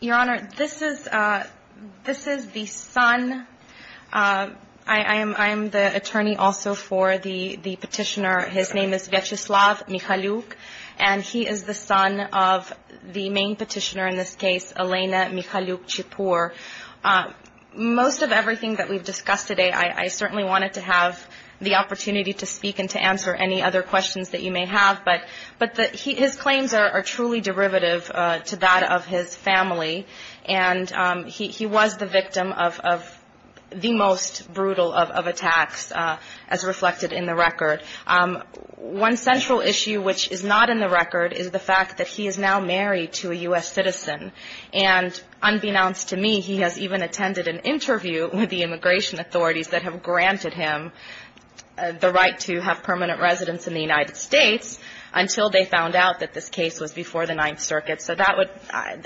Your Honor, this is the son. I am the attorney also for the petitioner. His name is Vyacheslav Mikhailouk and he is the son of the main petitioner in this case, Elena Mikhailouk-Chipur. Most of everything that we've discussed today, I certainly wanted to have the opportunity to speak and to answer any other questions that you may have, but his claims are truly derivative to that of his family and he was the victim of the most brutal of attacks as reflected in the record. One central issue which is not in the record is the fact that he is now married to a U.S. citizen and unbeknownst to me, he has even attended an interview with the immigration authorities that have granted him the right to have permanent residence in the United States until they found out that this case was before the Ninth Circuit. So that would,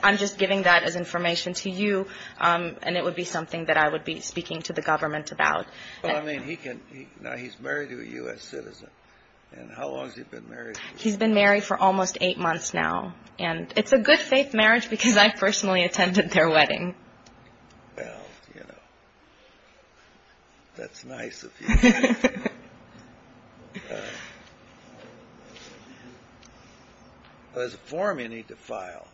I'm just giving that as information to you and it would be something that I would be speaking to the government about. Well, I mean, he can, now he's married to a U.S. citizen and how long has he been married to a U.S. citizen? He's been married for almost eight months now and it's a good faith marriage because I personally attended their wedding. Well, you know, that's nice of you. There's a form you need to file.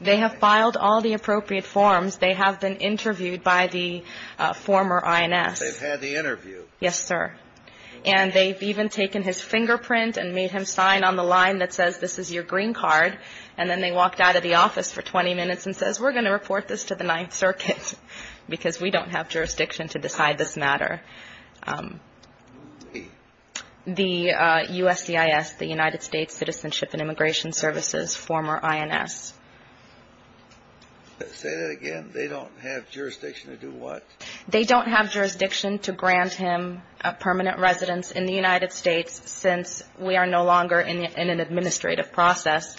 They have filed all the appropriate forms. They have been interviewed by the former INS. They've had the interview. Yes, sir. And they've even taken his fingerprint and made him sign on the line that says, this is your green card and then they walked out of the office for 20 minutes and says, we're going to report this to the Ninth Circuit because we don't have jurisdiction to decide this matter. Who? The USCIS, the United States Citizenship and Immigration Services, former INS. Say that again. They don't have jurisdiction to do what? They don't have jurisdiction to grant him permanent residence in the United States since we are no longer in an administrative process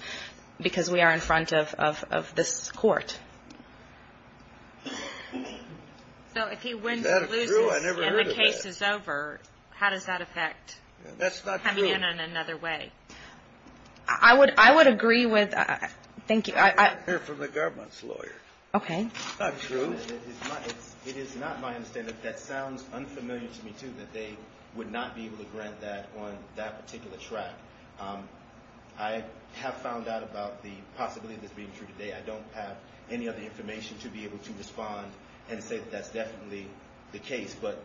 because we are in front of this court. So if he wins and loses and the case is over, how does that affect coming in in another way? That's not true. I would agree with, thank you. I heard from the government's lawyer. Okay. That's not true. It is not my understanding, that sounds unfamiliar to me too, that they would not be able to respond on that particular track. I have found out about the possibility of this being true today. I don't have any other information to be able to respond and say that that's definitely the case. But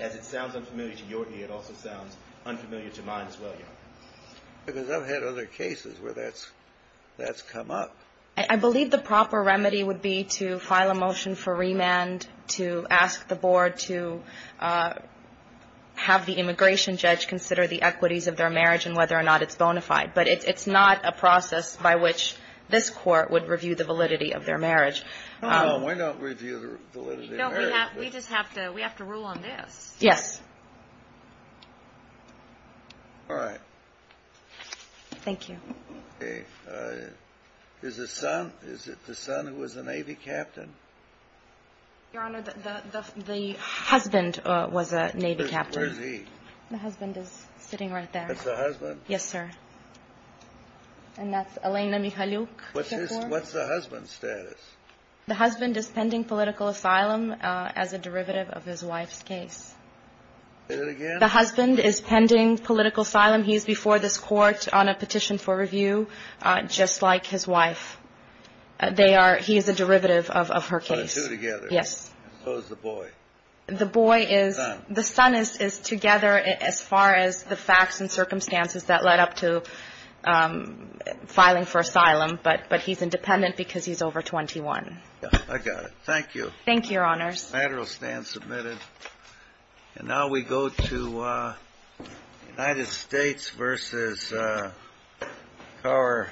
as it sounds unfamiliar to your ear, it also sounds unfamiliar to mine as well, Your Honor. Because I've had other cases where that's come up. I believe the proper remedy would be to file a motion for remand to ask the board to have the immigration judge consider the equities of their marriage and whether or not it's bona fide. But it's not a process by which this court would review the validity of their marriage. No, no. Why not review the validity of their marriage? We just have to rule on this. Yes. All right. Thank you. Okay. Is it the son who was the Navy captain? Your Honor, the husband was a Navy captain. Where is he? The husband is sitting right there. That's the husband? Yes, sir. And that's Elena Michaluk. What's the husband's status? The husband is pending political asylum as a derivative of his wife's case. Say that again? The husband is pending political asylum. He is before this court on a petition for review, just like his wife. He is a derivative of her case. So the two together? Yes. So is the boy? The son. The son is together as far as the facts and circumstances that led up to filing for asylum. But he's independent because he's over 21. I got it. Thank you. Thank you, Your Honors. The case is submitted. And now we go to United States v. Power.